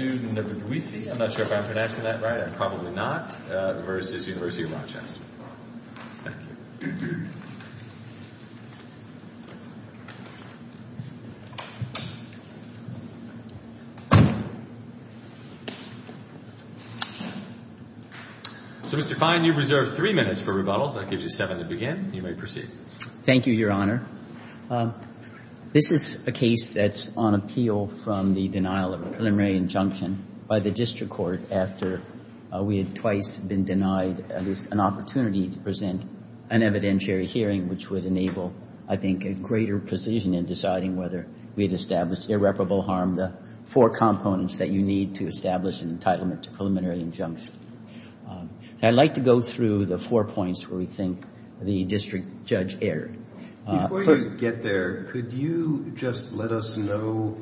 So, Mr. Fine, you reserve three minutes for rebuttals. That gives you seven to begin. You may proceed. Thank you, Your Honor. This is a case that's on appeal from the denial of a preliminary injunction by the district court after we had twice been denied at least an opportunity to present an evidentiary hearing, which would enable, I think, a greater precision in deciding whether we had established irreparable harm, the four components that you need to establish an entitlement to preliminary injunction. I'd like to go through the four points where we think the district judge erred. Before you get there, could you just let us know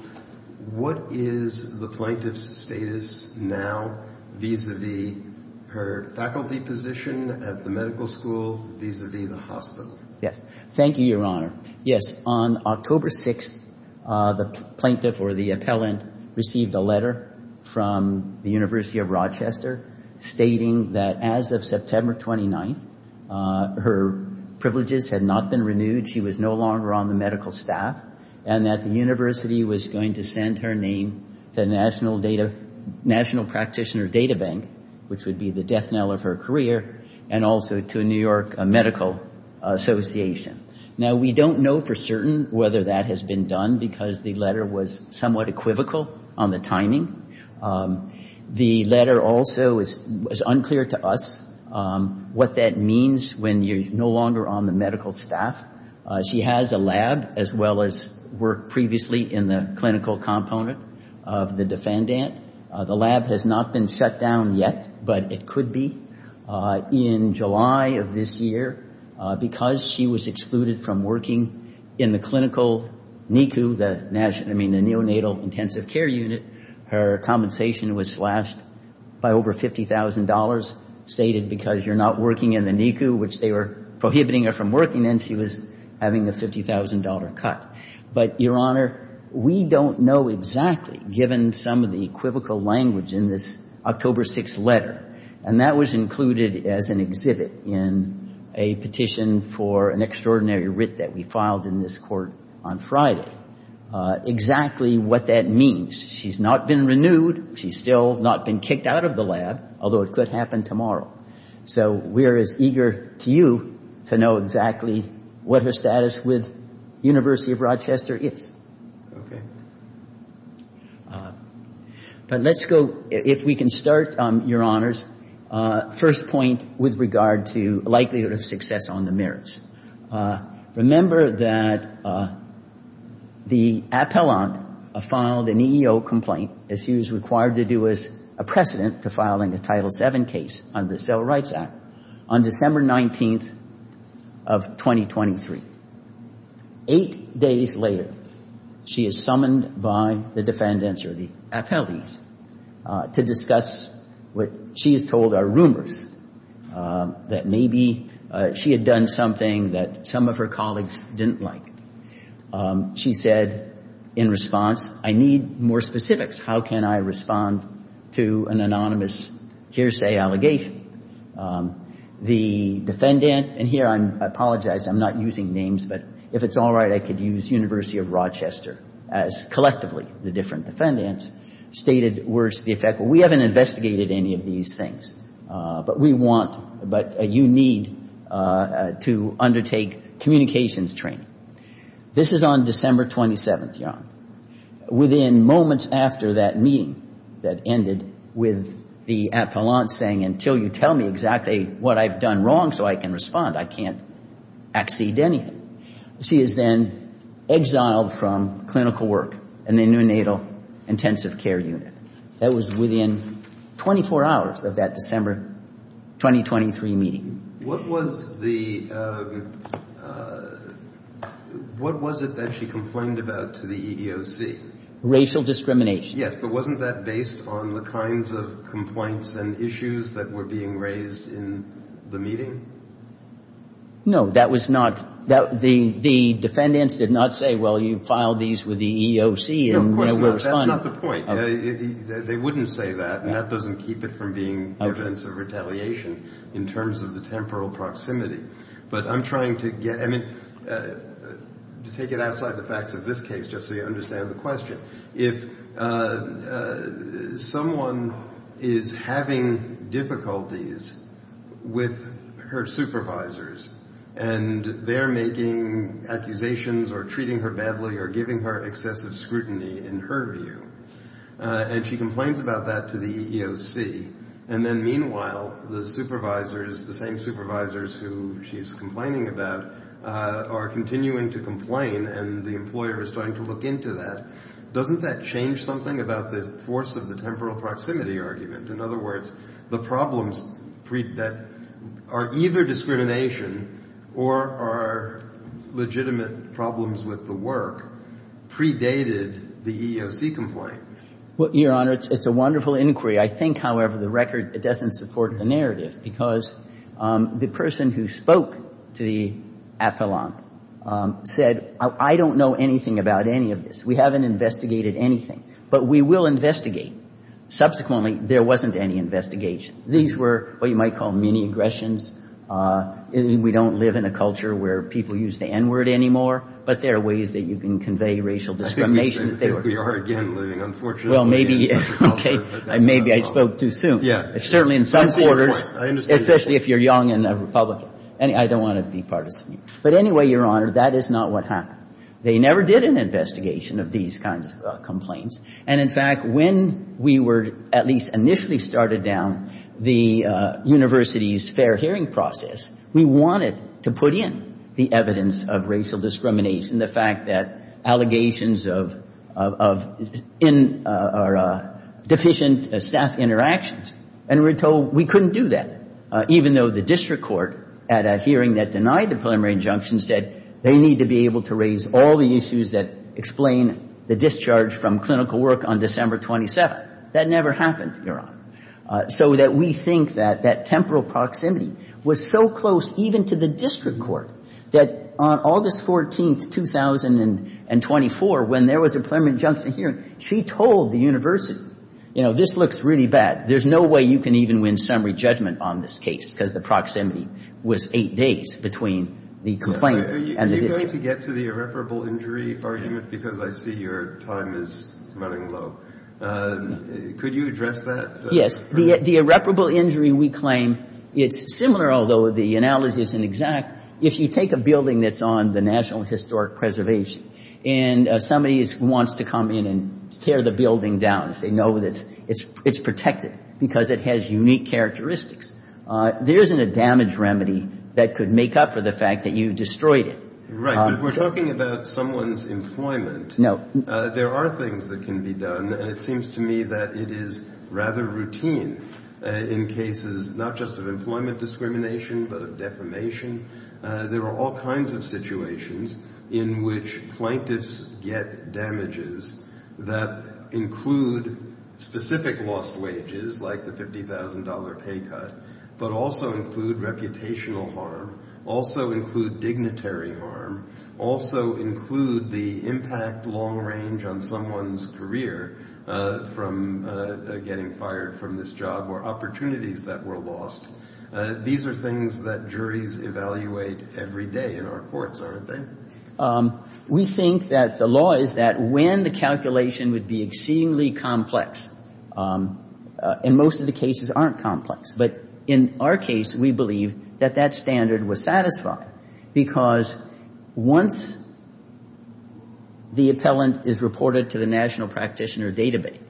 what is the plaintiff's status now vis-à-vis her faculty position at the medical school vis-à-vis the hospital? Thank you, Your Honor. Yes, on October 6th, the plaintiff or the appellant received a letter from the University of Rochester stating that as of September 29th, her privileges had not been renewed. She was no longer on the medical staff and that the university was going to send her name to National Practitioner Data Bank, which would be the death knell of her career, and also to New York Medical Association. Now, we don't know for certain whether that has been done because the letter was somewhat equivocal on the timing. The letter also is unclear to us what that means when you're no longer on the medical staff. She has a lab as well as worked previously in the clinical component of the defendant. The lab has not been shut down yet, but it could be. In July of this year, because she was excluded from working in the clinical NICU, I mean the neonatal intensive care unit, her compensation was slashed by over $50,000, stated because you're not working in the NICU, which they were prohibiting her from working in. She was having a $50,000 cut. But, Your Honor, we don't know exactly, given some of the equivocal language in this October 6th letter, and that was included as an exhibit in a petition for an extraordinary writ that we filed in this court on Friday, exactly what that means. She's not been renewed. She's still not been kicked out of the lab, although it could happen tomorrow. So we're as eager to you to know exactly what her status with University of Rochester is. But let's go, if we can start, Your Honors, first point with regard to likelihood of success on the merits. Remember that the appellant filed an EEO complaint, as she was required to do as a precedent to filing a Title VII case under the Civil Rights Act, on December 19th of 2023. Eight days later, she is summoned by the defendants or the appellees to discuss what she is told are rumors, that maybe she had done something that some of her colleagues didn't like. She said in response, I need more specifics. How can I respond to an anonymous hearsay allegation? The defendant, and here I apologize, I'm not using names, but if it's all right, I could use University of Rochester as collectively the different defendants, stated, worse, the effect, we haven't investigated any of these things. But we want, but you need to undertake communications training. This is on December 27th, Your Honor. Within moments after that meeting that ended with the appellant saying, until you tell me exactly what I've done wrong so I can respond, I can't accede anything. She is then exiled from clinical work in the neonatal intensive care unit. That was within 24 hours of that December 2023 meeting. What was the, what was it that she complained about to the EEOC? Racial discrimination. Yes, but wasn't that based on the kinds of complaints and issues that were being raised in the meeting? No, that was not. The defendants did not say, well, you filed these with the EEOC and they will respond. That's not the point. They wouldn't say that, and that doesn't keep it from being evidence of retaliation in terms of the temporal proximity. But I'm trying to get, I mean, to take it outside the facts of this case just so you understand the question. If someone is having difficulties with her supervisors and they're making accusations or treating her badly or giving her excessive scrutiny, in her view, and she complains about that to the EEOC, and then meanwhile the supervisors, the same supervisors who she's complaining about, are continuing to complain and the employer is trying to look into that, doesn't that change something about the force of the temporal proximity argument? In other words, the problems that are either discrimination or are legitimate problems with the work predated the EEOC complaint. Well, Your Honor, it's a wonderful inquiry. I think, however, the record doesn't support the narrative because the person who spoke to the appellant said, I don't know anything about any of this. We haven't investigated anything, but we will investigate. Subsequently, there wasn't any investigation. These were what you might call mini-aggressions. We don't live in a culture where people use the N-word anymore, but there are ways that you can convey racial discrimination. I think we are again living, unfortunately, in such a culture. Well, maybe, okay. Maybe I spoke too soon. Certainly in some quarters, especially if you're young and a Republican. I don't want to be partisan. But anyway, Your Honor, that is not what happened. They never did an investigation of these kinds of complaints. And, in fact, when we were at least initially started down the university's fair hearing process, we wanted to put in the evidence of racial discrimination, the fact that allegations of deficient staff interactions. And we were told we couldn't do that, even though the district court at a hearing that denied the preliminary injunction said they need to be able to raise all the issues that explain the discharge from clinical work on December 27th. That never happened, Your Honor. So that we think that that temporal proximity was so close even to the district court that on August 14th, 2024, when there was a preliminary injunction hearing, she told the university, you know, this looks really bad. There's no way you can even win summary judgment on this case because the proximity was eight days between the complaint. Are you going to get to the irreparable injury argument? Because I see your time is running low. Could you address that? The irreparable injury, we claim, it's similar, although the analogy isn't exact. If you take a building that's on the National Historic Preservation and somebody wants to come in and tear the building down, they know that it's protected because it has unique characteristics. There isn't a damage remedy that could make up for the fact that you destroyed it. Right, but we're talking about someone's employment. No. There are things that can be done, and it seems to me that it is rather routine in cases not just of employment discrimination but of defamation. There are all kinds of situations in which plaintiffs get damages that include specific lost wages like the $50,000 pay cut but also include reputational harm, also include dignitary harm, also include the impact long-range on someone's career from getting fired from this job or opportunities that were lost. These are things that juries evaluate every day in our courts, aren't they? We think that the law is that when the calculation would be exceedingly complex, and most of the cases aren't complex, but in our case we believe that that standard was satisfied because once the appellant is reported to the National Practitioner Database,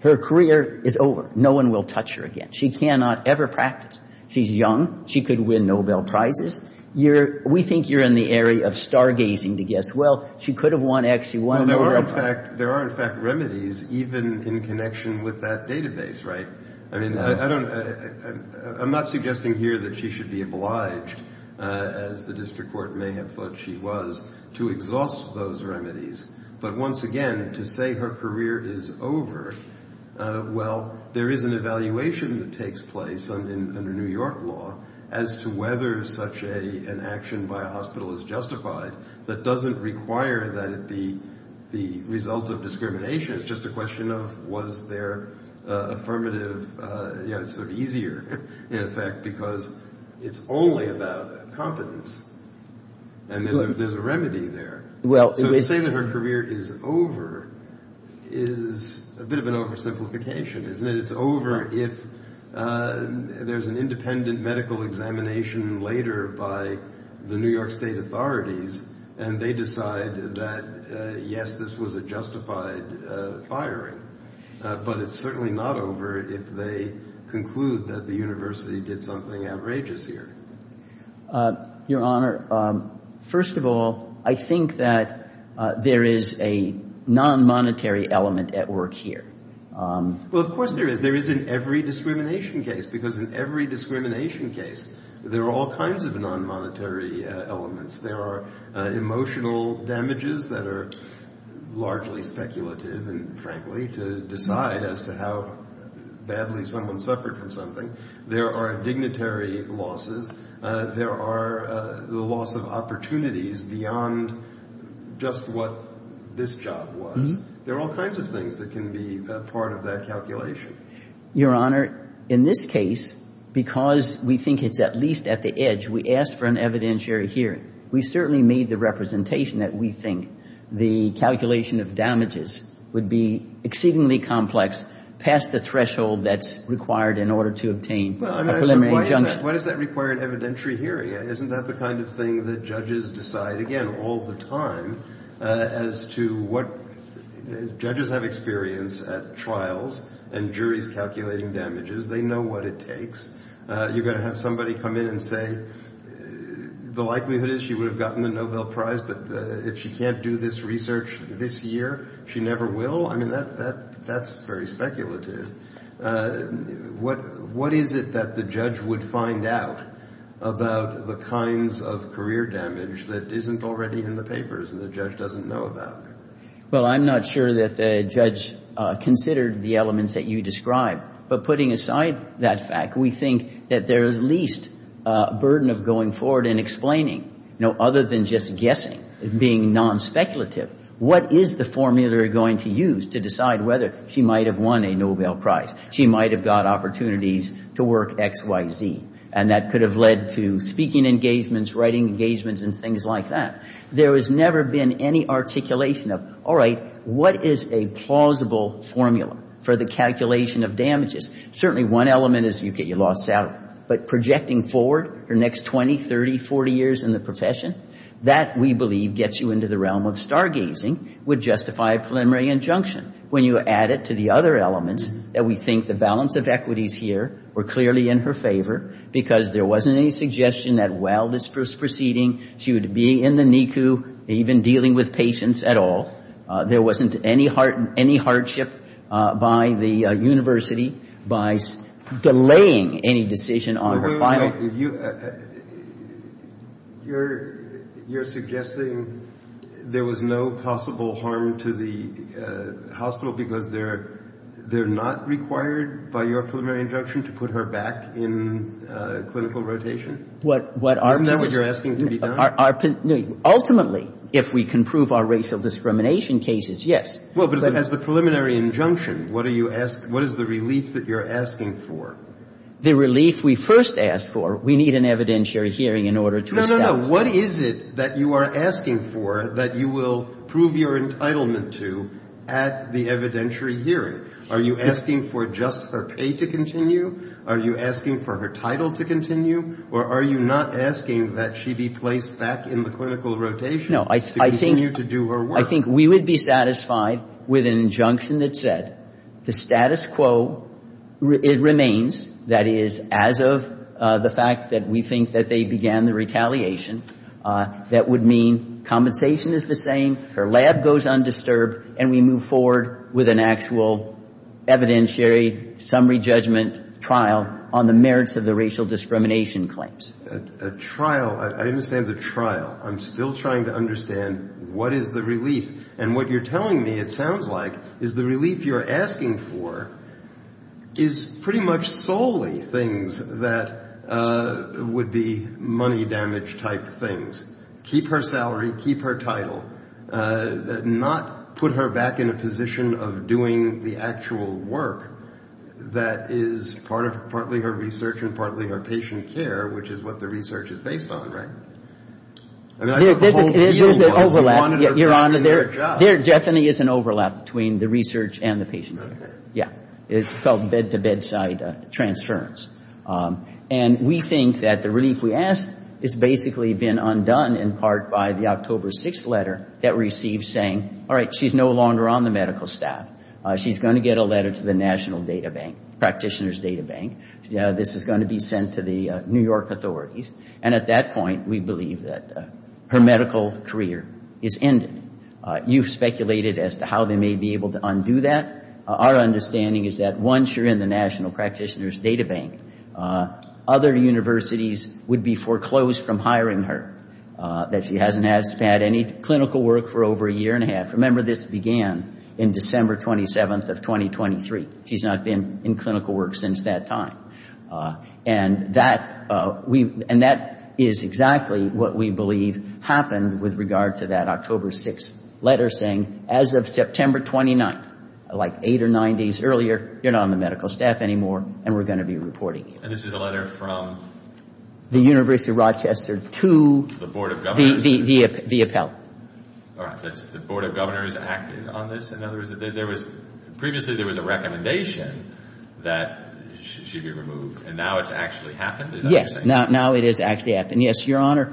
her career is over. No one will touch her again. She cannot ever practice. She's young. She could win Nobel Prizes. We think you're in the area of stargazing to guess, well, she could have won actually one Nobel Prize. There are, in fact, remedies even in connection with that database, right? I mean, I'm not suggesting here that she should be obliged, as the district court may have thought she was, to exhaust those remedies. But once again, to say her career is over, well, there is an evaluation that takes place under New York law as to whether such an action by a hospital is justified. That doesn't require that it be the result of discrimination. It's just a question of was their affirmative easier, in effect, because it's only about competence, and there's a remedy there. So to say that her career is over is a bit of an oversimplification, isn't it? It's over if there's an independent medical examination later by the New York State authorities, and they decide that, yes, this was a justified firing. But it's certainly not over if they conclude that the university did something outrageous here. Your Honor, first of all, I think that there is a non-monetary element at work here. Well, of course there is. There is in every discrimination case, because in every discrimination case there are all kinds of non-monetary elements. There are emotional damages that are largely speculative and, frankly, to decide as to how badly someone suffered from something. There are dignitary losses. There are the loss of opportunities beyond just what this job was. There are all kinds of things that can be part of that calculation. Your Honor, in this case, because we think it's at least at the edge, we asked for an evidentiary hearing. We certainly made the representation that we think the calculation of damages would be exceedingly complex past the threshold that's required in order to obtain a preliminary injunction. Why does that require an evidentiary hearing? Isn't that the kind of thing that judges decide, again, all the time, as to what judges have experience at trials and juries calculating damages. They know what it takes. You're going to have somebody come in and say the likelihood is she would have gotten the Nobel Prize, but if she can't do this research this year, she never will. I mean, that's very speculative. What is it that the judge would find out about the kinds of career damage that isn't already in the papers and the judge doesn't know about? Well, I'm not sure that the judge considered the elements that you described, but putting aside that fact, we think that there is at least a burden of going forward and explaining, other than just guessing, being non-speculative, what is the formula you're going to use to decide whether she might have won a Nobel Prize, she might have got opportunities to work X, Y, Z, and that could have led to speaking engagements, writing engagements, and things like that. There has never been any articulation of, all right, what is a plausible formula for the calculation of damages? Certainly one element is you get your lost salary, but projecting forward your next 20, 30, 40 years in the profession, that, we believe, gets you into the realm of stargazing, would justify a preliminary injunction. When you add it to the other elements, that we think the balance of equities here were clearly in her favor because there wasn't any suggestion that while this was proceeding, she would be in the NICU even dealing with patients at all. There wasn't any hardship by the university by delaying any decision on her final. You're suggesting there was no possible harm to the hospital because they're not required by your preliminary injunction to put her back in clinical rotation? Isn't that what you're asking to be done? Ultimately, if we can prove our racial discrimination cases, yes. But as the preliminary injunction, what is the relief that you're asking for? The relief we first asked for, we need an evidentiary hearing in order to establish. No, no, no. What is it that you are asking for that you will prove your entitlement to at the evidentiary hearing? Are you asking for just her pay to continue? Are you asking for her title to continue? Or are you not asking that she be placed back in the clinical rotation to continue to do her work? I think we would be satisfied with an injunction that said the status quo remains, that is, as of the fact that we think that they began the retaliation, that would mean compensation is the same, her lab goes undisturbed, and we move forward with an actual evidentiary summary judgment trial on the merits of the racial discrimination claims. A trial. I understand the trial. I'm still trying to understand what is the relief. And what you're telling me it sounds like is the relief you're asking for is pretty much solely things that would be money damage type things. Keep her salary, keep her title. Not put her back in a position of doing the actual work that is partly her research and partly her patient care, which is what the research is based on, right? There's an overlap, Your Honor. There definitely is an overlap between the research and the patient care. Yeah. It's called bed-to-bedside transference. And we think that the relief we asked has basically been undone in part by the October 6th letter that we received saying, all right, she's no longer on the medical staff. She's going to get a letter to the National Data Bank, Practitioner's Data Bank. This is going to be sent to the New York authorities. And at that point, we believe that her medical career is ended. You've speculated as to how they may be able to undo that. Our understanding is that once you're in the National Practitioner's Data Bank, other universities would be foreclosed from hiring her, that she hasn't had any clinical work for over a year and a half. Remember, this began in December 27th of 2023. She's not been in clinical work since that time. And that is exactly what we believe happened with regard to that October 6th letter saying, as of September 29th, like eight or nine days earlier, you're not on the medical staff anymore and we're going to be reporting you. And this is a letter from? The University of Rochester to the appellate. All right. The Board of Governors acted on this? Previously, there was a recommendation that she be removed. And now it's actually happened? Yes. Now it is actually happening. Yes, Your Honor.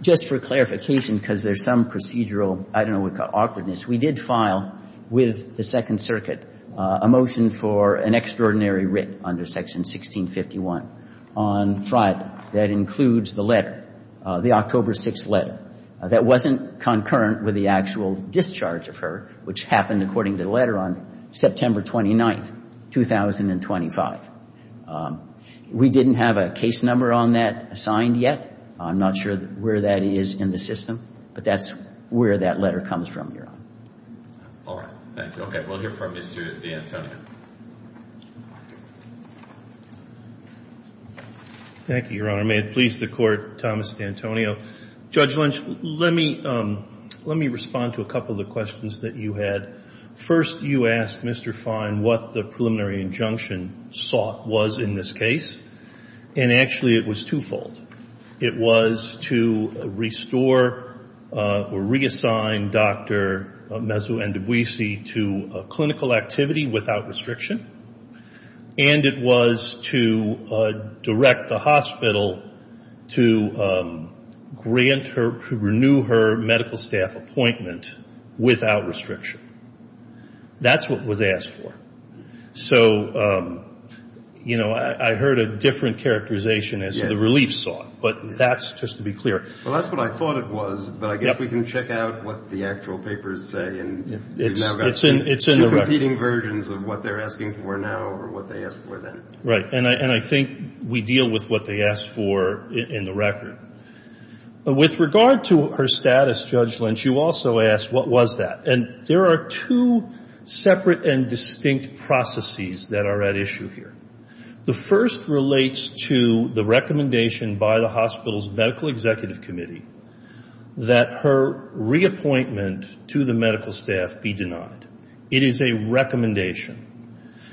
Just for clarification, because there's some procedural, I don't know, awkwardness, we did file with the Second Circuit a motion for an extraordinary writ under Section 1651 on Friday that includes the letter, the October 6th letter, that wasn't concurrent with the actual discharge of her, which happened according to the letter on September 29th, 2025. We didn't have a case number on that assigned yet. I'm not sure where that is in the system, but that's where that letter comes from, Your Honor. All right. Thank you. Okay. We'll hear from Mr. D'Antonio. Thank you, Your Honor. May it please the Court, Thomas D'Antonio. Judge Lynch, let me respond to a couple of the questions that you had. First, you asked Mr. Fine what the preliminary injunction was in this case. And actually, it was twofold. It was to restore or reassign Dr. Mezu-Endebwisi to clinical activity without restriction. And it was to direct the hospital to grant her, to renew her medical staff appointment without restriction. That's what was asked for. So, you know, I heard a different characterization as to the relief sought, but that's just to be clear. Well, that's what I thought it was, but I guess we can check out what the actual papers say. It's in the record. You're repeating versions of what they're asking for now over what they asked for then. Right. And I think we deal with what they asked for in the record. With regard to her status, Judge Lynch, you also asked what was that. And there are two separate and distinct processes that are at issue here. The first relates to the recommendation by the hospital's medical executive committee that her reappointment to the medical staff be denied. It is a recommendation.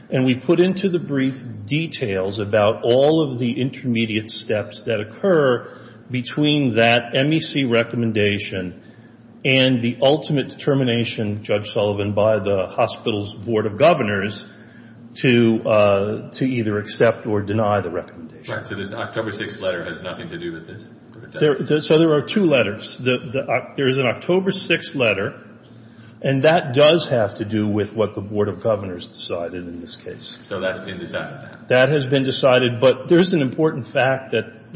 And we put into the brief details about all of the intermediate steps that occur between that MEC recommendation and the ultimate determination, Judge Sullivan, by the hospital's board of governors to either accept or deny the recommendation. So this October 6th letter has nothing to do with this? So there are two letters. There is an October 6th letter, and that does have to do with what the board of governors decided in this case. So that's been decided now. That has been decided, but there's an important fact that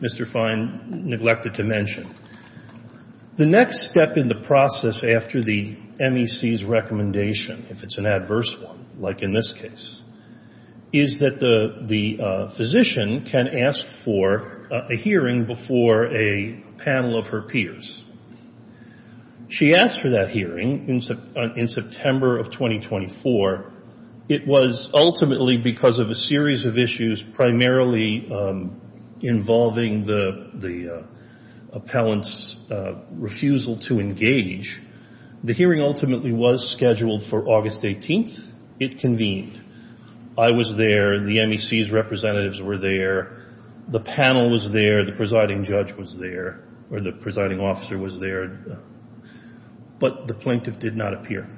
Mr. Fine neglected to mention. The next step in the process after the MEC's recommendation, if it's an adverse one like in this case, is that the physician can ask for a hearing before a panel of her peers. She asked for that hearing in September of 2024. It was ultimately because of a series of issues primarily involving the appellant's refusal to engage. The hearing ultimately was scheduled for August 18th. It convened. I was there. The MEC's representatives were there. The panel was there. The presiding judge was there, or the presiding officer was there, but the plaintiff did not appear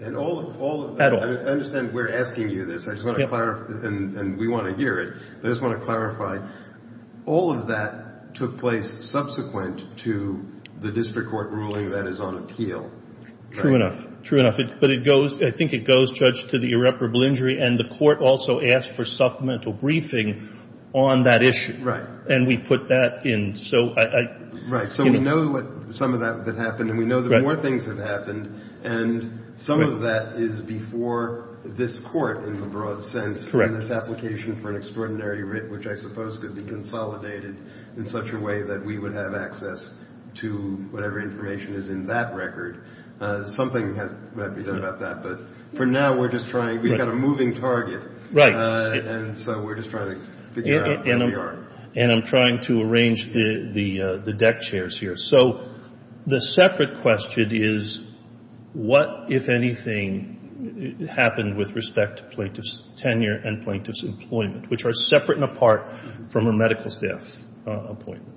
at all. I understand we're asking you this. I just want to clarify, and we want to hear it. I just want to clarify, all of that took place subsequent to the district court ruling that is on appeal. True enough. True enough. But I think it goes, Judge, to the irreparable injury, and the court also asked for supplemental briefing on that issue. Right. And we put that in. Right. So we know what some of that happened, and we know that more things have happened, and some of that is before this court in the broad sense in this application for an extraordinary writ, which I suppose could be consolidated in such a way that we would have access to whatever information is in that record. Something has to be done about that, but for now we're just trying. We've got a moving target. Right. And so we're just trying to figure out where we are. And I'm trying to arrange the deck chairs here. So the separate question is what, if anything, happened with respect to plaintiff's tenure and plaintiff's employment, which are separate and apart from a medical staff appointment?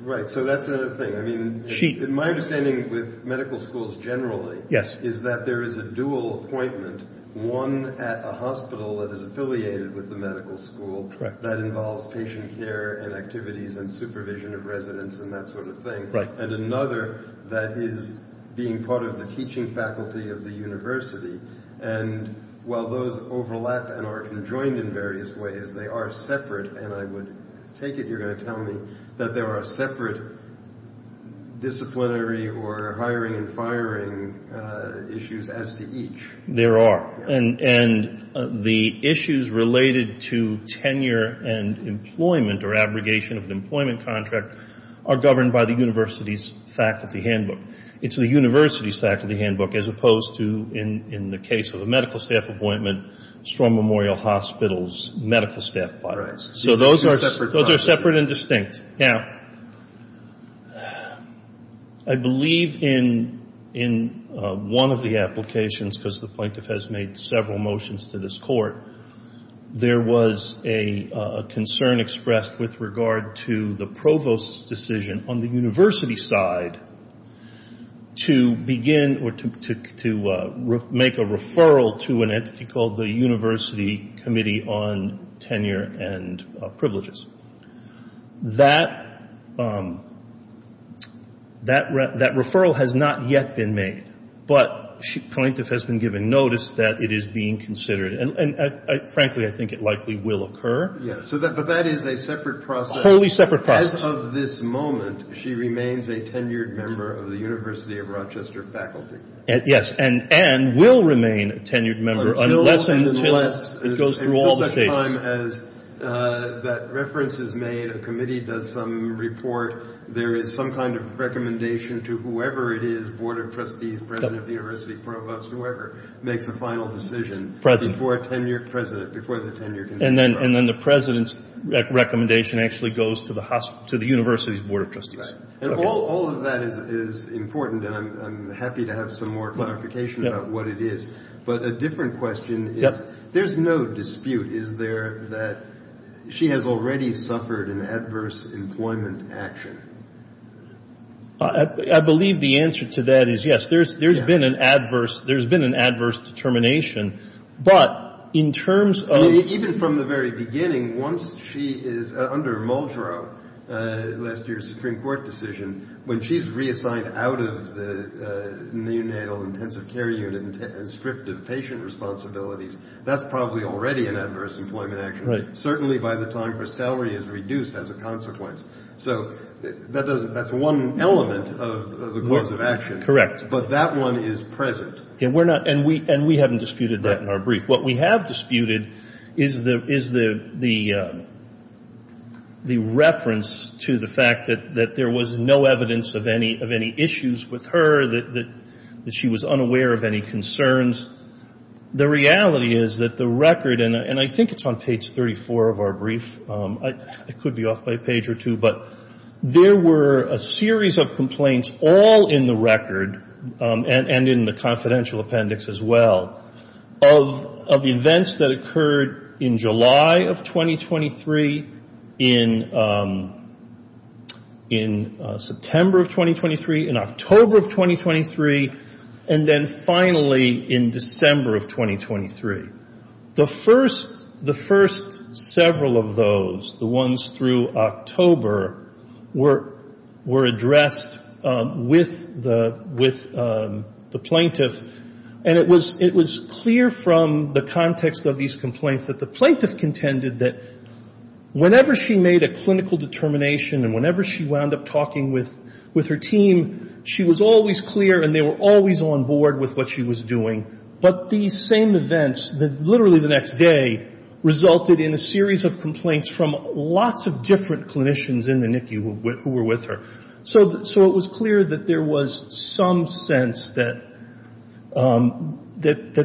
Right. So that's another thing. I mean, my understanding with medical schools generally is that there is a dual appointment, one at a hospital that is affiliated with the medical school that involves patient care and activities and supervision of residents and that sort of thing, and another that is being part of the teaching faculty of the university. And while those overlap and are conjoined in various ways, they are separate, and I would take it you're going to tell me that there are separate disciplinary or hiring and firing issues as to each. There are. And the issues related to tenure and employment or abrogation of an employment contract are governed by the university's faculty handbook. It's the university's faculty handbook as opposed to, in the case of a medical staff appointment, Strong Memorial Hospital's medical staff appointments. So those are separate and distinct. Now, I believe in one of the applications, because the plaintiff has made several motions to this court, there was a concern expressed with regard to the provost's decision on the university side to begin or to make a referral to an entity called the University Committee on Tenure and Privileges. That referral has not yet been made, but the plaintiff has been given notice that it is being considered, and frankly, I think it likely will occur. Yes, but that is a separate process. Totally separate process. As of this moment, she remains a tenured member of the University of Rochester faculty. Yes, and will remain a tenured member unless and until it goes through all the stages. As that reference is made, a committee does some report. There is some kind of recommendation to whoever it is, board of trustees, president of the university, provost, whoever, makes a final decision before the tenure can start. And then the president's recommendation actually goes to the university's board of trustees. And all of that is important, and I'm happy to have some more clarification about what it is. But a different question is there's no dispute, is there, that she has already suffered an adverse employment action? I believe the answer to that is yes. There's been an adverse determination. Even from the very beginning, once she is under Muldrow, last year's Supreme Court decision, when she's reassigned out of the neonatal intensive care unit and stripped of patient responsibilities, that's probably already an adverse employment action. Certainly by the time her salary is reduced as a consequence. So that's one element of the course of action. Correct. But that one is present. And we haven't disputed that in our brief. What we have disputed is the reference to the fact that there was no evidence of any issues with her, that she was unaware of any concerns. The reality is that the record, and I think it's on page 34 of our brief. It could be off by a page or two. But there were a series of complaints all in the record, and in the confidential appendix as well, of events that occurred in July of 2023, in September of 2023, in October of 2023, and then finally in December of 2023. The first several of those, the ones through October, were addressed with the plaintiff, and it was clear from the context of these complaints that the plaintiff contended that whenever she made a clinical determination and whenever she wound up talking with her team, she was always clear and they were always on board with what she was doing. But these same events, literally the next day, resulted in a series of complaints from lots of different clinicians in the NICU who were with her. So it was clear that there was some sense that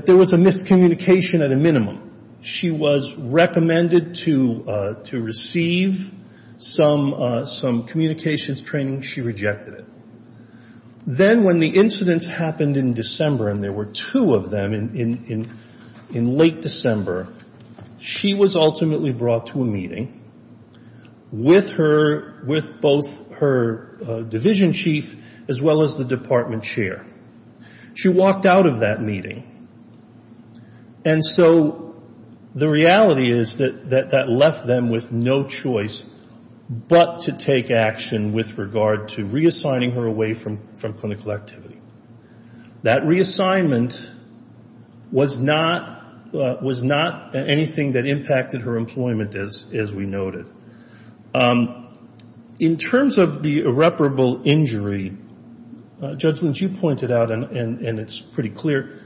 there was a miscommunication at a minimum. She was recommended to receive some communications training. She rejected it. Then when the incidents happened in December, and there were two of them in late December, she was ultimately brought to a meeting with both her division chief as well as the department chair. She walked out of that meeting. And so the reality is that that left them with no choice but to take action with regard to reassigning her away from clinical activity. That reassignment was not anything that impacted her employment, as we noted. In terms of the irreparable injury, Judge Lynch, you pointed out, and it's pretty clear,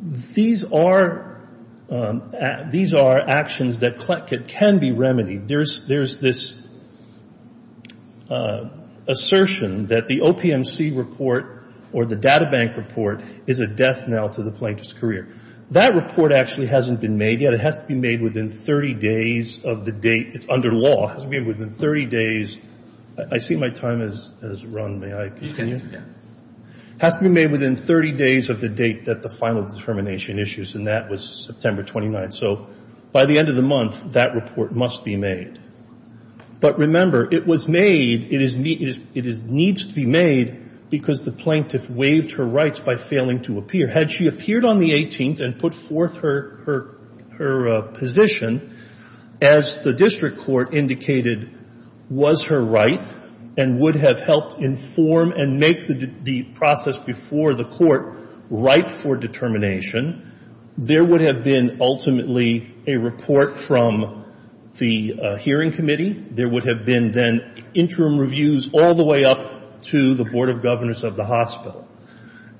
these are actions that can be remedied. There's this assertion that the OPMC report or the databank report is a death knell to the plaintiff's career. That report actually hasn't been made yet. It has to be made within 30 days of the date. It's under law. It has to be made within 30 days. I see my time has run. May I continue? It has to be made within 30 days of the date that the final determination issues, and that was September 29th. So by the end of the month, that report must be made. But remember, it was made. It needs to be made because the plaintiff waived her rights by failing to appear. Had she appeared on the 18th and put forth her position, as the district court indicated was her right and would have helped inform and make the process before the court right for determination, there would have been ultimately a report from the hearing committee. There would have been then interim reviews all the way up to the Board of Governors of the hospital.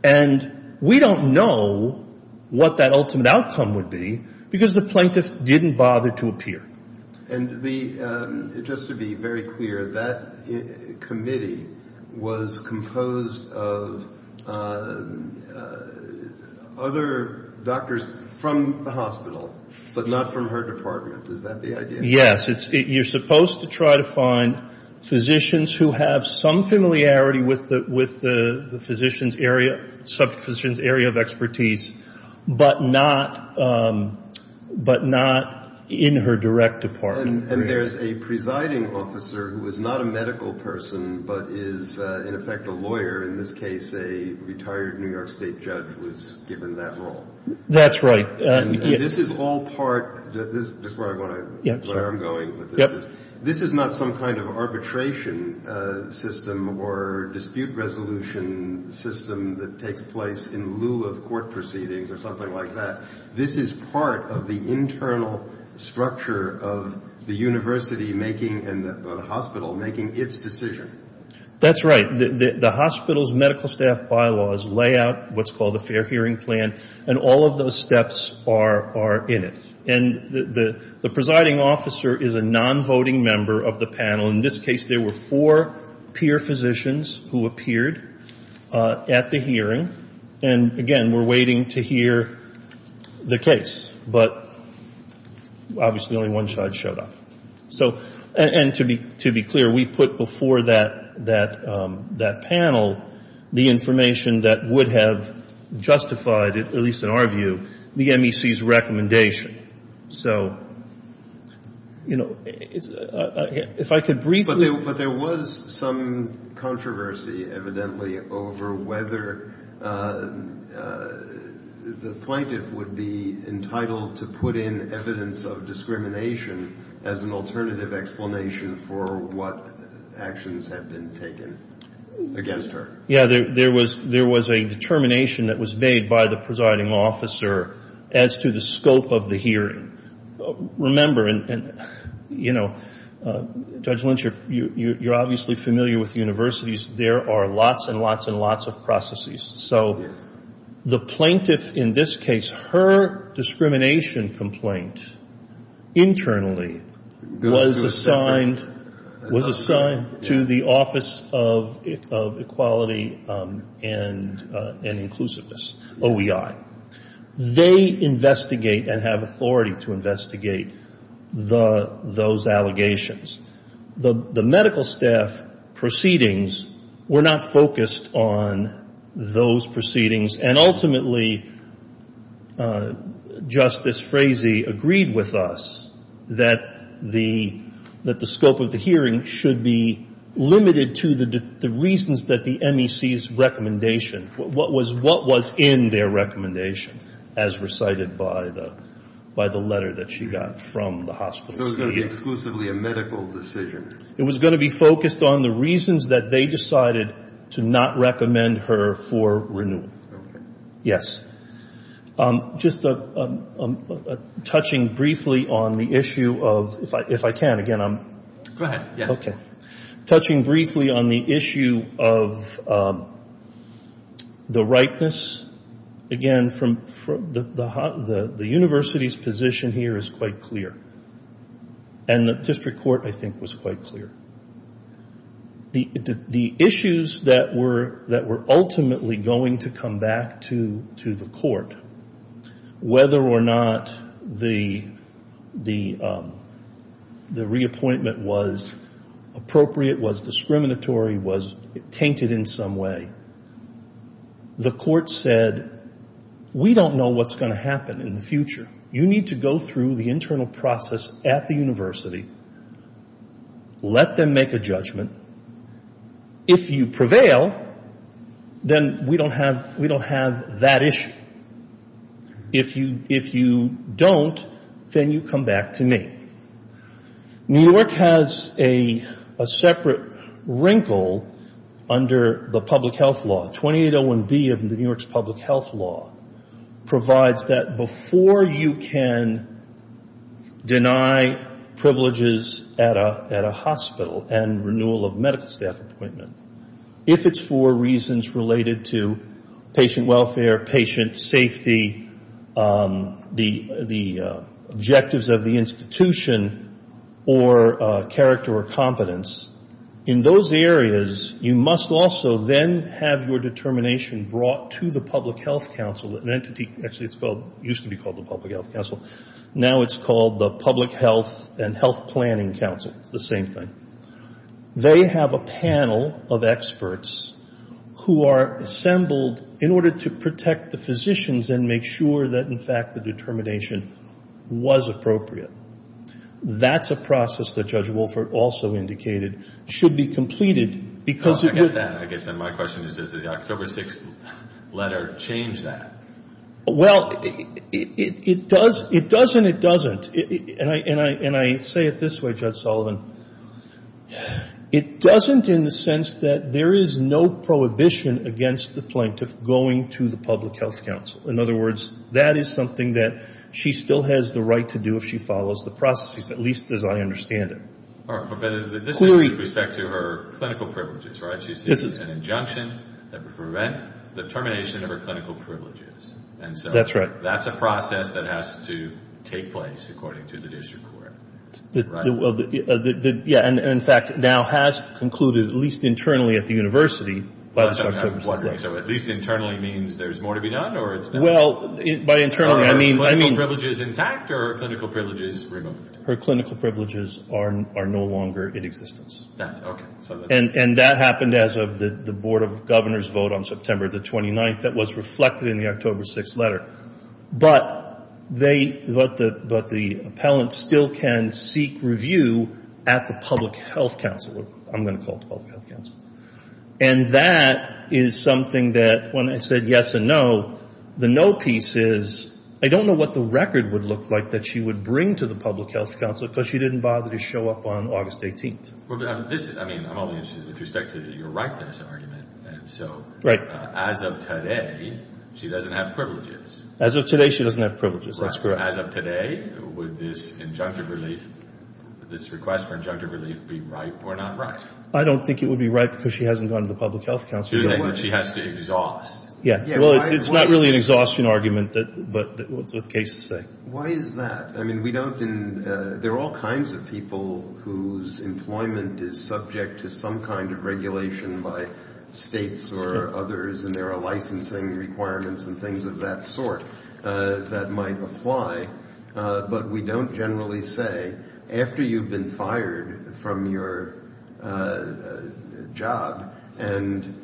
And we don't know what that ultimate outcome would be because the plaintiff didn't bother to appear. And just to be very clear, that committee was composed of other doctors from the hospital, but not from her department. Is that the idea? Yes. You're supposed to try to find physicians who have some familiarity with the physician's area of expertise, but not in her direct department. And there's a presiding officer who is not a medical person but is, in effect, a lawyer. In this case, a retired New York State judge was given that role. That's right. This is all part of what I'm going with. This is not some kind of arbitration system or dispute resolution system that takes place in lieu of court proceedings or something like that. This is part of the internal structure of the university making and the hospital making its decision. That's right. The hospital's medical staff bylaws lay out what's called a fair hearing plan, and all of those steps are in it. And the presiding officer is a non-voting member of the panel. In this case, there were four peer physicians who appeared at the hearing. And, again, we're waiting to hear the case. But obviously only one judge showed up. And to be clear, we put before that panel the information that would have justified, at least in our view, the MEC's recommendation. So, you know, if I could briefly ---- But there was some controversy, evidently, over whether the plaintiff would be entitled to put in evidence of discrimination as an alternative explanation for what actions had been taken against her. Yeah, there was a determination that was made by the presiding officer as to the scope of the hearing. Remember, and, you know, Judge Lynch, you're obviously familiar with universities. There are lots and lots and lots of processes. So the plaintiff in this case, her discrimination complaint internally was assigned to the Office of Equality and Inclusiveness, OEI. They investigate and have authority to investigate those allegations. The medical staff proceedings were not focused on those proceedings. And, ultimately, Justice Frazee agreed with us that the scope of the hearing should be limited to the reasons that the MEC's recommendation what was in their recommendation as recited by the letter that she got from the hospital. So it was going to be exclusively a medical decision. It was going to be focused on the reasons that they decided to not recommend her for renewal. Okay. Yes. Just touching briefly on the issue of ---- if I can, again, I'm ---- Go ahead, yeah. And the district court, I think, was quite clear. The issues that were ultimately going to come back to the court, whether or not the reappointment was appropriate, was discriminatory, was tainted in some way, the court said, we don't know what's going to happen in the future. You need to go through the internal process at the university. Let them make a judgment. If you prevail, then we don't have that issue. If you don't, then you come back to me. New York has a separate wrinkle under the public health law. 2801B of New York's public health law provides that before you can deny privileges at a hospital and renewal of medical staff appointment, if it's for reasons related to patient welfare, patient safety, the objectives of the institution, or character or competence, in those areas, you must also then have your determination brought to the public health council, an entity ---- actually, it used to be called the public health council. Now it's called the Public Health and Health Planning Council. It's the same thing. They have a panel of experts who are assembled in order to protect the physicians and make sure that, in fact, the determination was appropriate. That's a process that Judge Wolfert also indicated should be completed because it would ---- I get that. I guess then my question is, does the October 6th letter change that? Well, it does and it doesn't. And I say it this way, Judge Sullivan. It doesn't in the sense that there is no prohibition against the plaintiff going to the public health council. In other words, that is something that she still has the right to do if she follows the processes, at least as I understand it. But this is with respect to her clinical privileges, right? This is an injunction that would prevent the termination of her clinical privileges. That's right. That's a process that has to take place according to the district court, right? Yeah. And, in fact, now has concluded at least internally at the university by the October 6th letter. I'm wondering, so at least internally means there's more to be done or it's not? Well, by internally, I mean ---- Are her clinical privileges intact or are her clinical privileges removed? Her clinical privileges are no longer in existence. That's okay. And that happened as of the Board of Governors vote on September the 29th that was reflected in the October 6th letter. But the appellant still can seek review at the public health council. I'm going to call it the public health council. And that is something that when I said yes and no, the no piece is I don't know what the record would look like that she would bring to the public health council because she didn't bother to show up on August 18th. I'm only interested with respect to your ripeness argument. So as of today, she doesn't have privileges. As of today, she doesn't have privileges. That's correct. As of today, would this request for injunctive relief be right or not right? I don't think it would be right because she hasn't gone to the public health council. You're saying that she has to exhaust. Yeah. Well, it's not really an exhaustion argument, but what's the case to say? Why is that? There are all kinds of people whose employment is subject to some kind of regulation by states or others, and there are licensing requirements and things of that sort that might apply. But we don't generally say after you've been fired from your job, and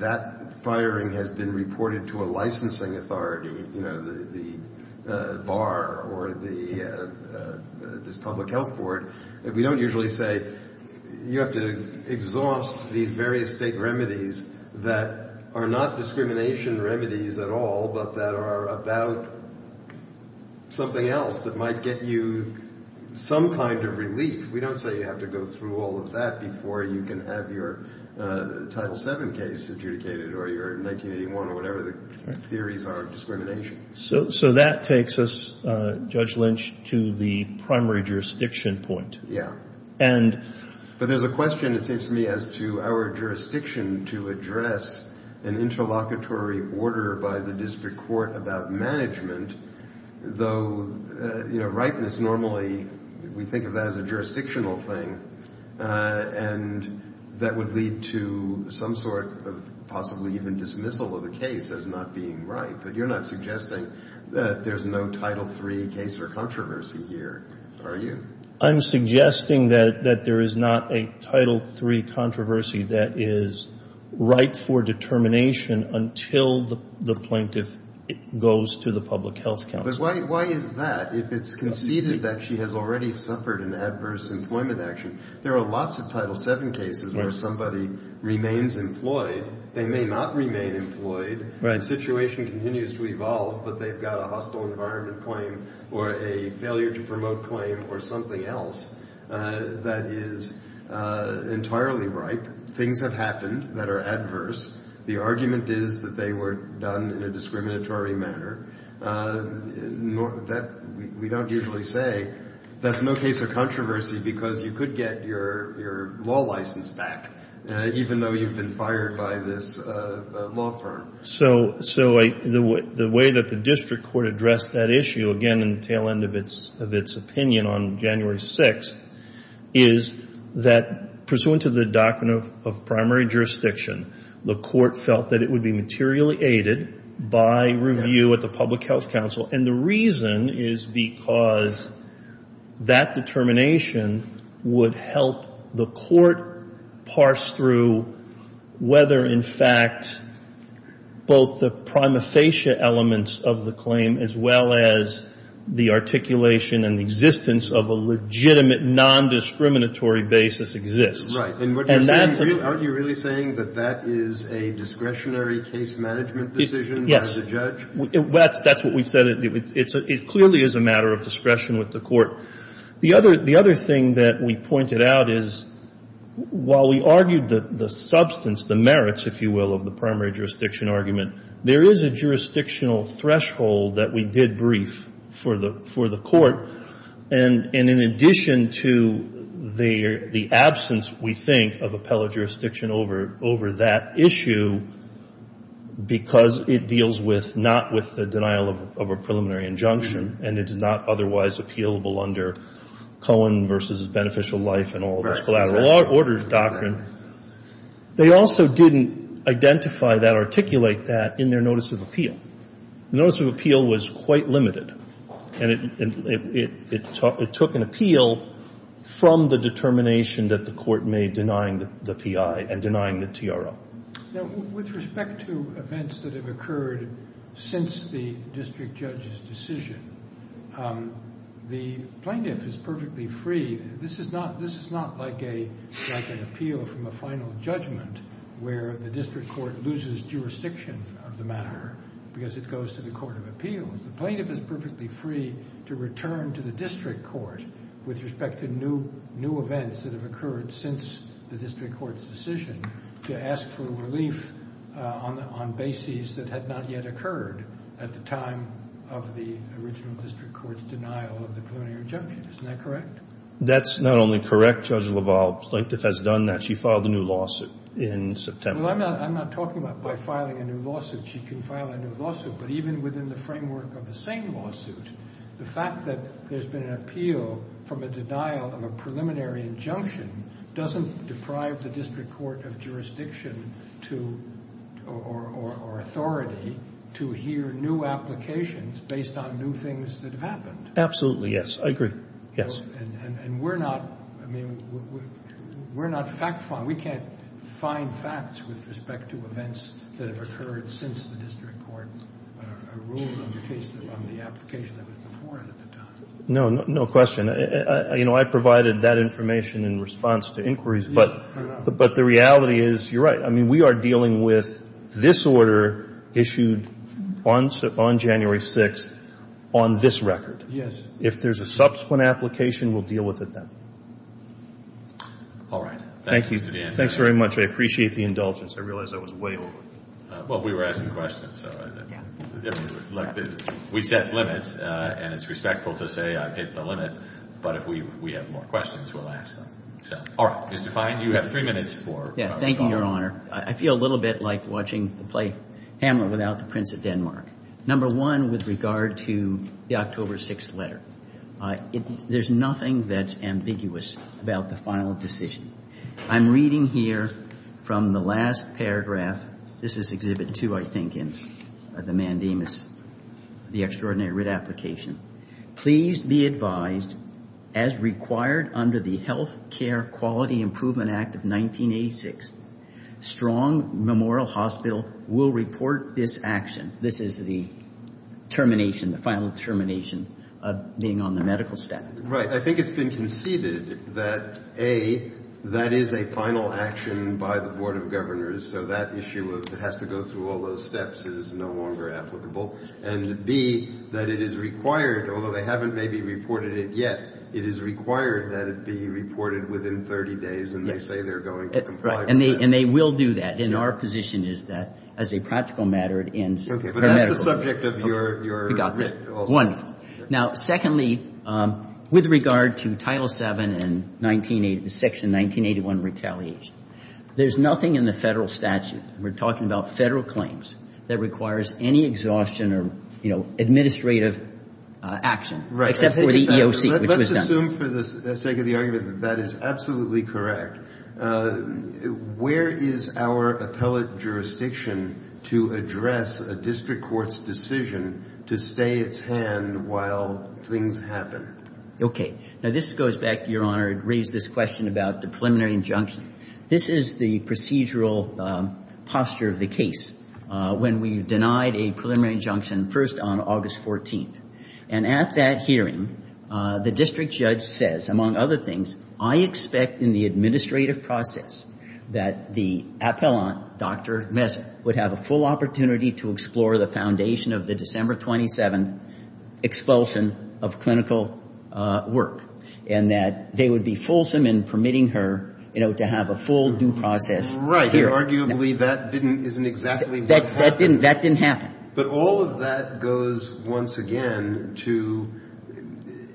that firing has been reported to a licensing authority, you know, the bar or this public health board. We don't usually say you have to exhaust these various state remedies that are not discrimination remedies at all, but that are about something else that might get you some kind of relief. We don't say you have to go through all of that before you can have your Title VII case adjudicated or your 1981 or whatever the theories are of discrimination. So that takes us, Judge Lynch, to the primary jurisdiction point. Yeah. But there's a question, it seems to me, as to our jurisdiction to address an interlocutory order by the district court about management, though, you know, ripeness normally, we think of that as a jurisdictional thing, and that would lead to some sort of possibly even dismissal of the case as not being right. But you're not suggesting that there's no Title III case or controversy here, are you? I'm suggesting that there is not a Title III controversy that is right for determination until the plaintiff goes to the public health council. But why is that? If it's conceded that she has already suffered an adverse employment action, there are lots of Title VII cases where somebody remains employed. They may not remain employed. The situation continues to evolve, but they've got a hostile environment claim or a failure to promote claim or something else that is entirely right. Things have happened that are adverse. The argument is that they were done in a discriminatory manner. We don't usually say that's no case of controversy because you could get your law license back, even though you've been fired by this law firm. So the way that the district court addressed that issue, again, in the tail end of its opinion on January 6th, is that pursuant to the doctrine of primary jurisdiction, the court felt that it would be materially aided by review at the public health council. And the reason is because that determination would help the court parse through whether, in fact, both the prima facie elements of the claim as well as the articulation and the existence of a legitimate nondiscriminatory basis exists. And that's a — And what you're saying, aren't you really saying that that is a discretionary case management decision by the judge? That's what we said. It clearly is a matter of discretion with the court. The other thing that we pointed out is while we argued the substance, the merits, if you will, of the primary jurisdiction argument, there is a jurisdictional threshold that we did brief for the court. And in addition to the absence, we think, of appellate jurisdiction over that issue because it deals with — not with the denial of a preliminary injunction and it is not otherwise appealable under Cohen v. Beneficial Life and all those collateral orders doctrine, they also didn't identify that or articulate that in their notice of appeal. The notice of appeal was quite limited. And it took an appeal from the determination that the court made denying the P.I. and denying the TRO. Now, with respect to events that have occurred since the district judge's decision, the plaintiff is perfectly free. This is not like an appeal from a final judgment where the district court loses jurisdiction of the matter because it goes to the court of appeals. The plaintiff is perfectly free to return to the district court with respect to new events that have occurred since the district court's decision to ask for relief on bases that had not yet occurred at the time of the original district court's denial of the preliminary injunction. Isn't that correct? That's not only correct. Judge LaValle's plaintiff has done that. She filed a new lawsuit in September. I'm not talking about by filing a new lawsuit. She can file a new lawsuit. But even within the framework of the same lawsuit, the fact that there's been an appeal from a denial of a preliminary injunction doesn't deprive the district court of jurisdiction or authority to hear new applications based on new things that have happened. Absolutely, yes. I agree. Yes. And we're not fact-finding. We can't find facts with respect to events that have occurred since the district court ruled on the application that was before it at the time. No, no question. You know, I provided that information in response to inquiries, but the reality is you're right. I mean, we are dealing with this order issued on January 6th on this record. Yes. If there's a subsequent application, we'll deal with it then. All right. Thank you. Thanks very much. I appreciate the indulgence. I realize I was way over. Well, we were asking questions. We set limits, and it's respectful to say I've hit the limit. But if we have more questions, we'll ask them. All right. Mr. Fein, you have three minutes for public comment. Thank you, Your Honor. I feel a little bit like watching the play Hamlet without the Prince of Denmark, number one, with regard to the October 6th letter. There's nothing that's ambiguous about the final decision. I'm reading here from the last paragraph. This is Exhibit 2, I think, in the Mandamus, the extraordinary writ application. Please be advised as required under the Health Care Quality Improvement Act of 1986, Strong Memorial Hospital will report this action. This is the termination, the final termination of being on the medical staff. Right. I think it's been conceded that, A, that is a final action by the Board of Governors, so that issue of it has to go through all those steps is no longer applicable, and, B, that it is required, although they haven't maybe reported it yet, it is required that it be reported within 30 days, and they say they're going to comply with that. And they will do that. And our position is that, as a practical matter, it ends premedically. But that's the subject of your writ also. We got that. One. Now, secondly, with regard to Title VII and Section 1981 retaliation, there's nothing in the Federal statute, and we're talking about Federal claims, that requires any exhaustion or, you know, administrative action. Right. Except for the EOC, which was done. Let's assume for the sake of the argument that that is absolutely correct. Where is our appellate jurisdiction to address a district court's decision to stay its hand while things happen? Okay. Now, this goes back, Your Honor, to raise this question about the preliminary injunction. This is the procedural posture of the case when we denied a preliminary injunction first on August 14th. And at that hearing, the district judge says, among other things, I expect in the administrative process that the appellant, Dr. Messick, would have a full opportunity to explore the foundation of the December 27th expulsion of clinical work. And that they would be fulsome in permitting her, you know, to have a full due process hearing. Right. Arguably, that isn't exactly what happened. That didn't happen. But all of that goes, once again, to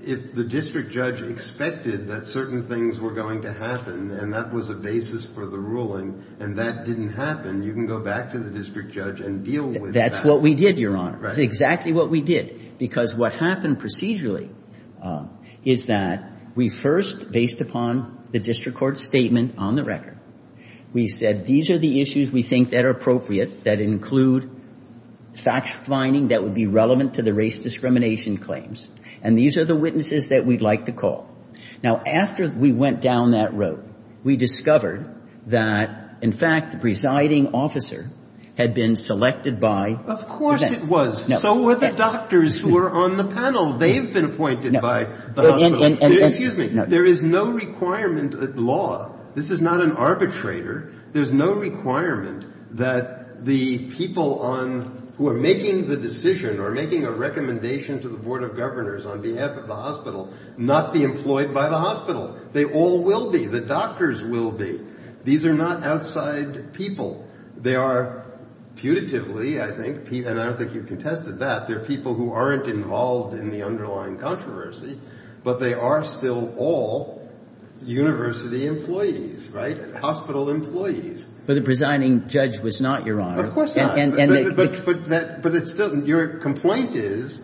if the district judge expected that certain things were going to happen and that was a basis for the ruling and that didn't happen, you can go back to the district judge and deal with that. That's what we did, Your Honor. Right. That's exactly what we did. Because what happened procedurally is that we first, based upon the district court's statement on the record, we said, these are the issues we think that are appropriate, that include fact-finding that would be relevant to the race discrimination claims. And these are the witnesses that we'd like to call. Now, after we went down that road, we discovered that, in fact, the presiding officer had been selected by the vet. Of course it was. So were the doctors who were on the panel. They've been appointed by the hospital. Excuse me. There is no requirement at law. This is not an arbitrator. There's no requirement that the people who are making the decision or making a recommendation to the Board of Governors on behalf of the hospital not be employed by the hospital. They all will be. The doctors will be. These are not outside people. They are putatively, I think, and I don't think you've contested that, they're people who aren't involved in the underlying controversy, but they are still all university employees, right? Hospital employees. But the presiding judge was not, Your Honor. Of course not. But it's still, your complaint is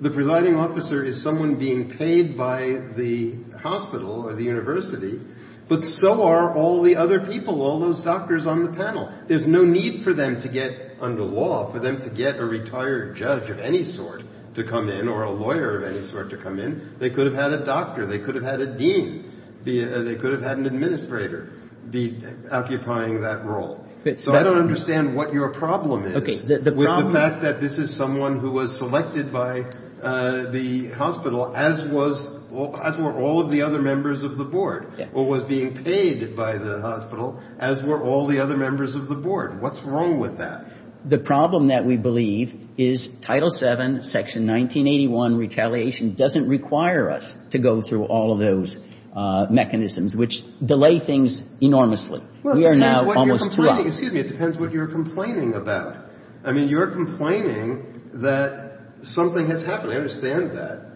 the presiding officer is someone being paid by the hospital or the university, but so are all the other people, all those doctors on the panel. There's no need for them to get under law, for them to get a retired judge of any sort to come in or a lawyer of any sort to come in. They could have had a doctor. They could have had a dean. They could have had an administrator be occupying that role. So I don't understand what your problem is with the fact that this is someone who was selected by the hospital, as were all of the other members of the board, or was being paid by the hospital, as were all the other members of the board. What's wrong with that? The problem that we believe is Title VII, Section 1981 retaliation doesn't require us to go through all of those mechanisms, which delay things enormously. We are now almost too late. Well, it depends what you're complaining about. I mean, you're complaining that something has happened. I understand that.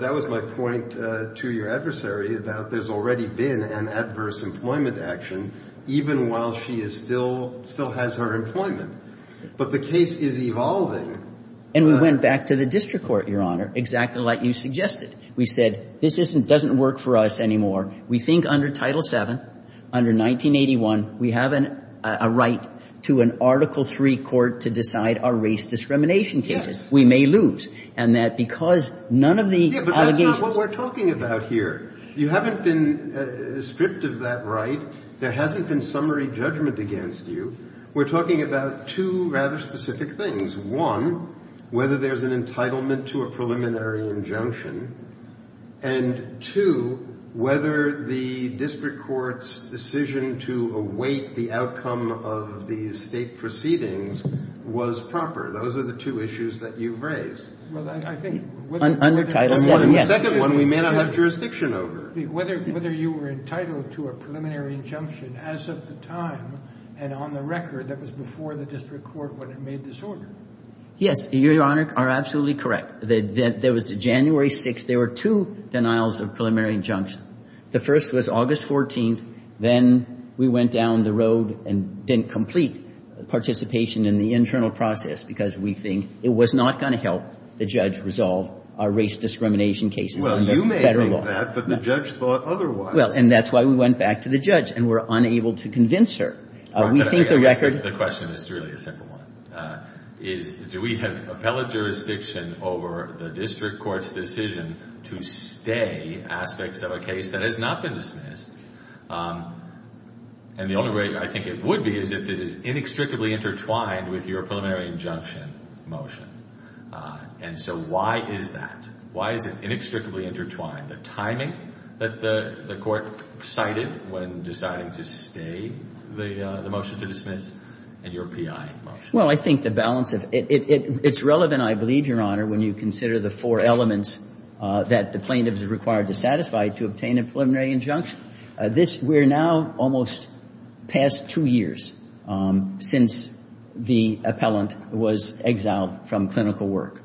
That was my point to your adversary, that there's already been an adverse employment action, even while she is still – still has her employment. But the case is evolving. And we went back to the district court, Your Honor, exactly like you suggested. We said this doesn't work for us anymore. We think under Title VII, under 1981, we have a right to an Article III court to decide our race discrimination cases. Yes. We may lose. And that because none of the allegations – Yeah, but that's not what we're talking about here. You haven't been stripped of that right. There hasn't been summary judgment against you. We're talking about two rather specific things. One, whether there's an entitlement to a preliminary injunction. And two, whether the district court's decision to await the outcome of the state proceedings was proper. Those are the two issues that you've raised. Well, I think – Under Title VII, yes. And the second one we may not have jurisdiction over. Whether you were entitled to a preliminary injunction as of the time and on the record that was before the district court when it made this order. Yes, Your Honor, you are absolutely correct. There was January 6th. There were two denials of preliminary injunction. The first was August 14th. Then we went down the road and didn't complete participation in the internal process because we think it was not going to help the judge resolve our race discrimination cases under federal law. Well, you may think that, but the judge thought otherwise. Well, and that's why we went back to the judge and were unable to convince her. We think the record – The question is truly a simple one. Do we have appellate jurisdiction over the district court's decision to stay aspects of a case that has not been dismissed? And the only way I think it would be is if it is inextricably intertwined with your preliminary injunction motion. And so why is that? Why is it inextricably intertwined? The timing that the court cited when deciding to stay the motion to dismiss and your P.I. motion. Well, I think the balance of – it's relevant, I believe, Your Honor, when you consider the four elements that the plaintiff is required to satisfy to obtain a preliminary injunction. This – we're now almost past two years since the appellant was exiled from clinical work.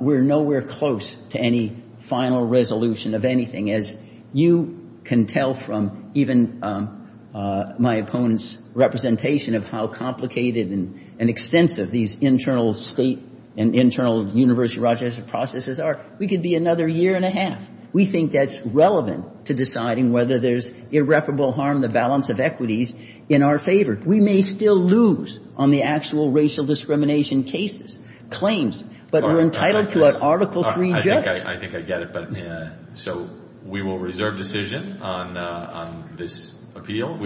We're nowhere close to any final resolution of anything. As you can tell from even my opponent's representation of how complicated and extensive these internal State and internal University of Rochester processes are, we could be another year and a half. We think that's relevant to deciding whether there's irreparable harm to the balance of equities in our favor. We may still lose on the actual racial discrimination cases, claims, but we're entitled to an article-free judgment. I think I get it. So we will reserve decision on this appeal.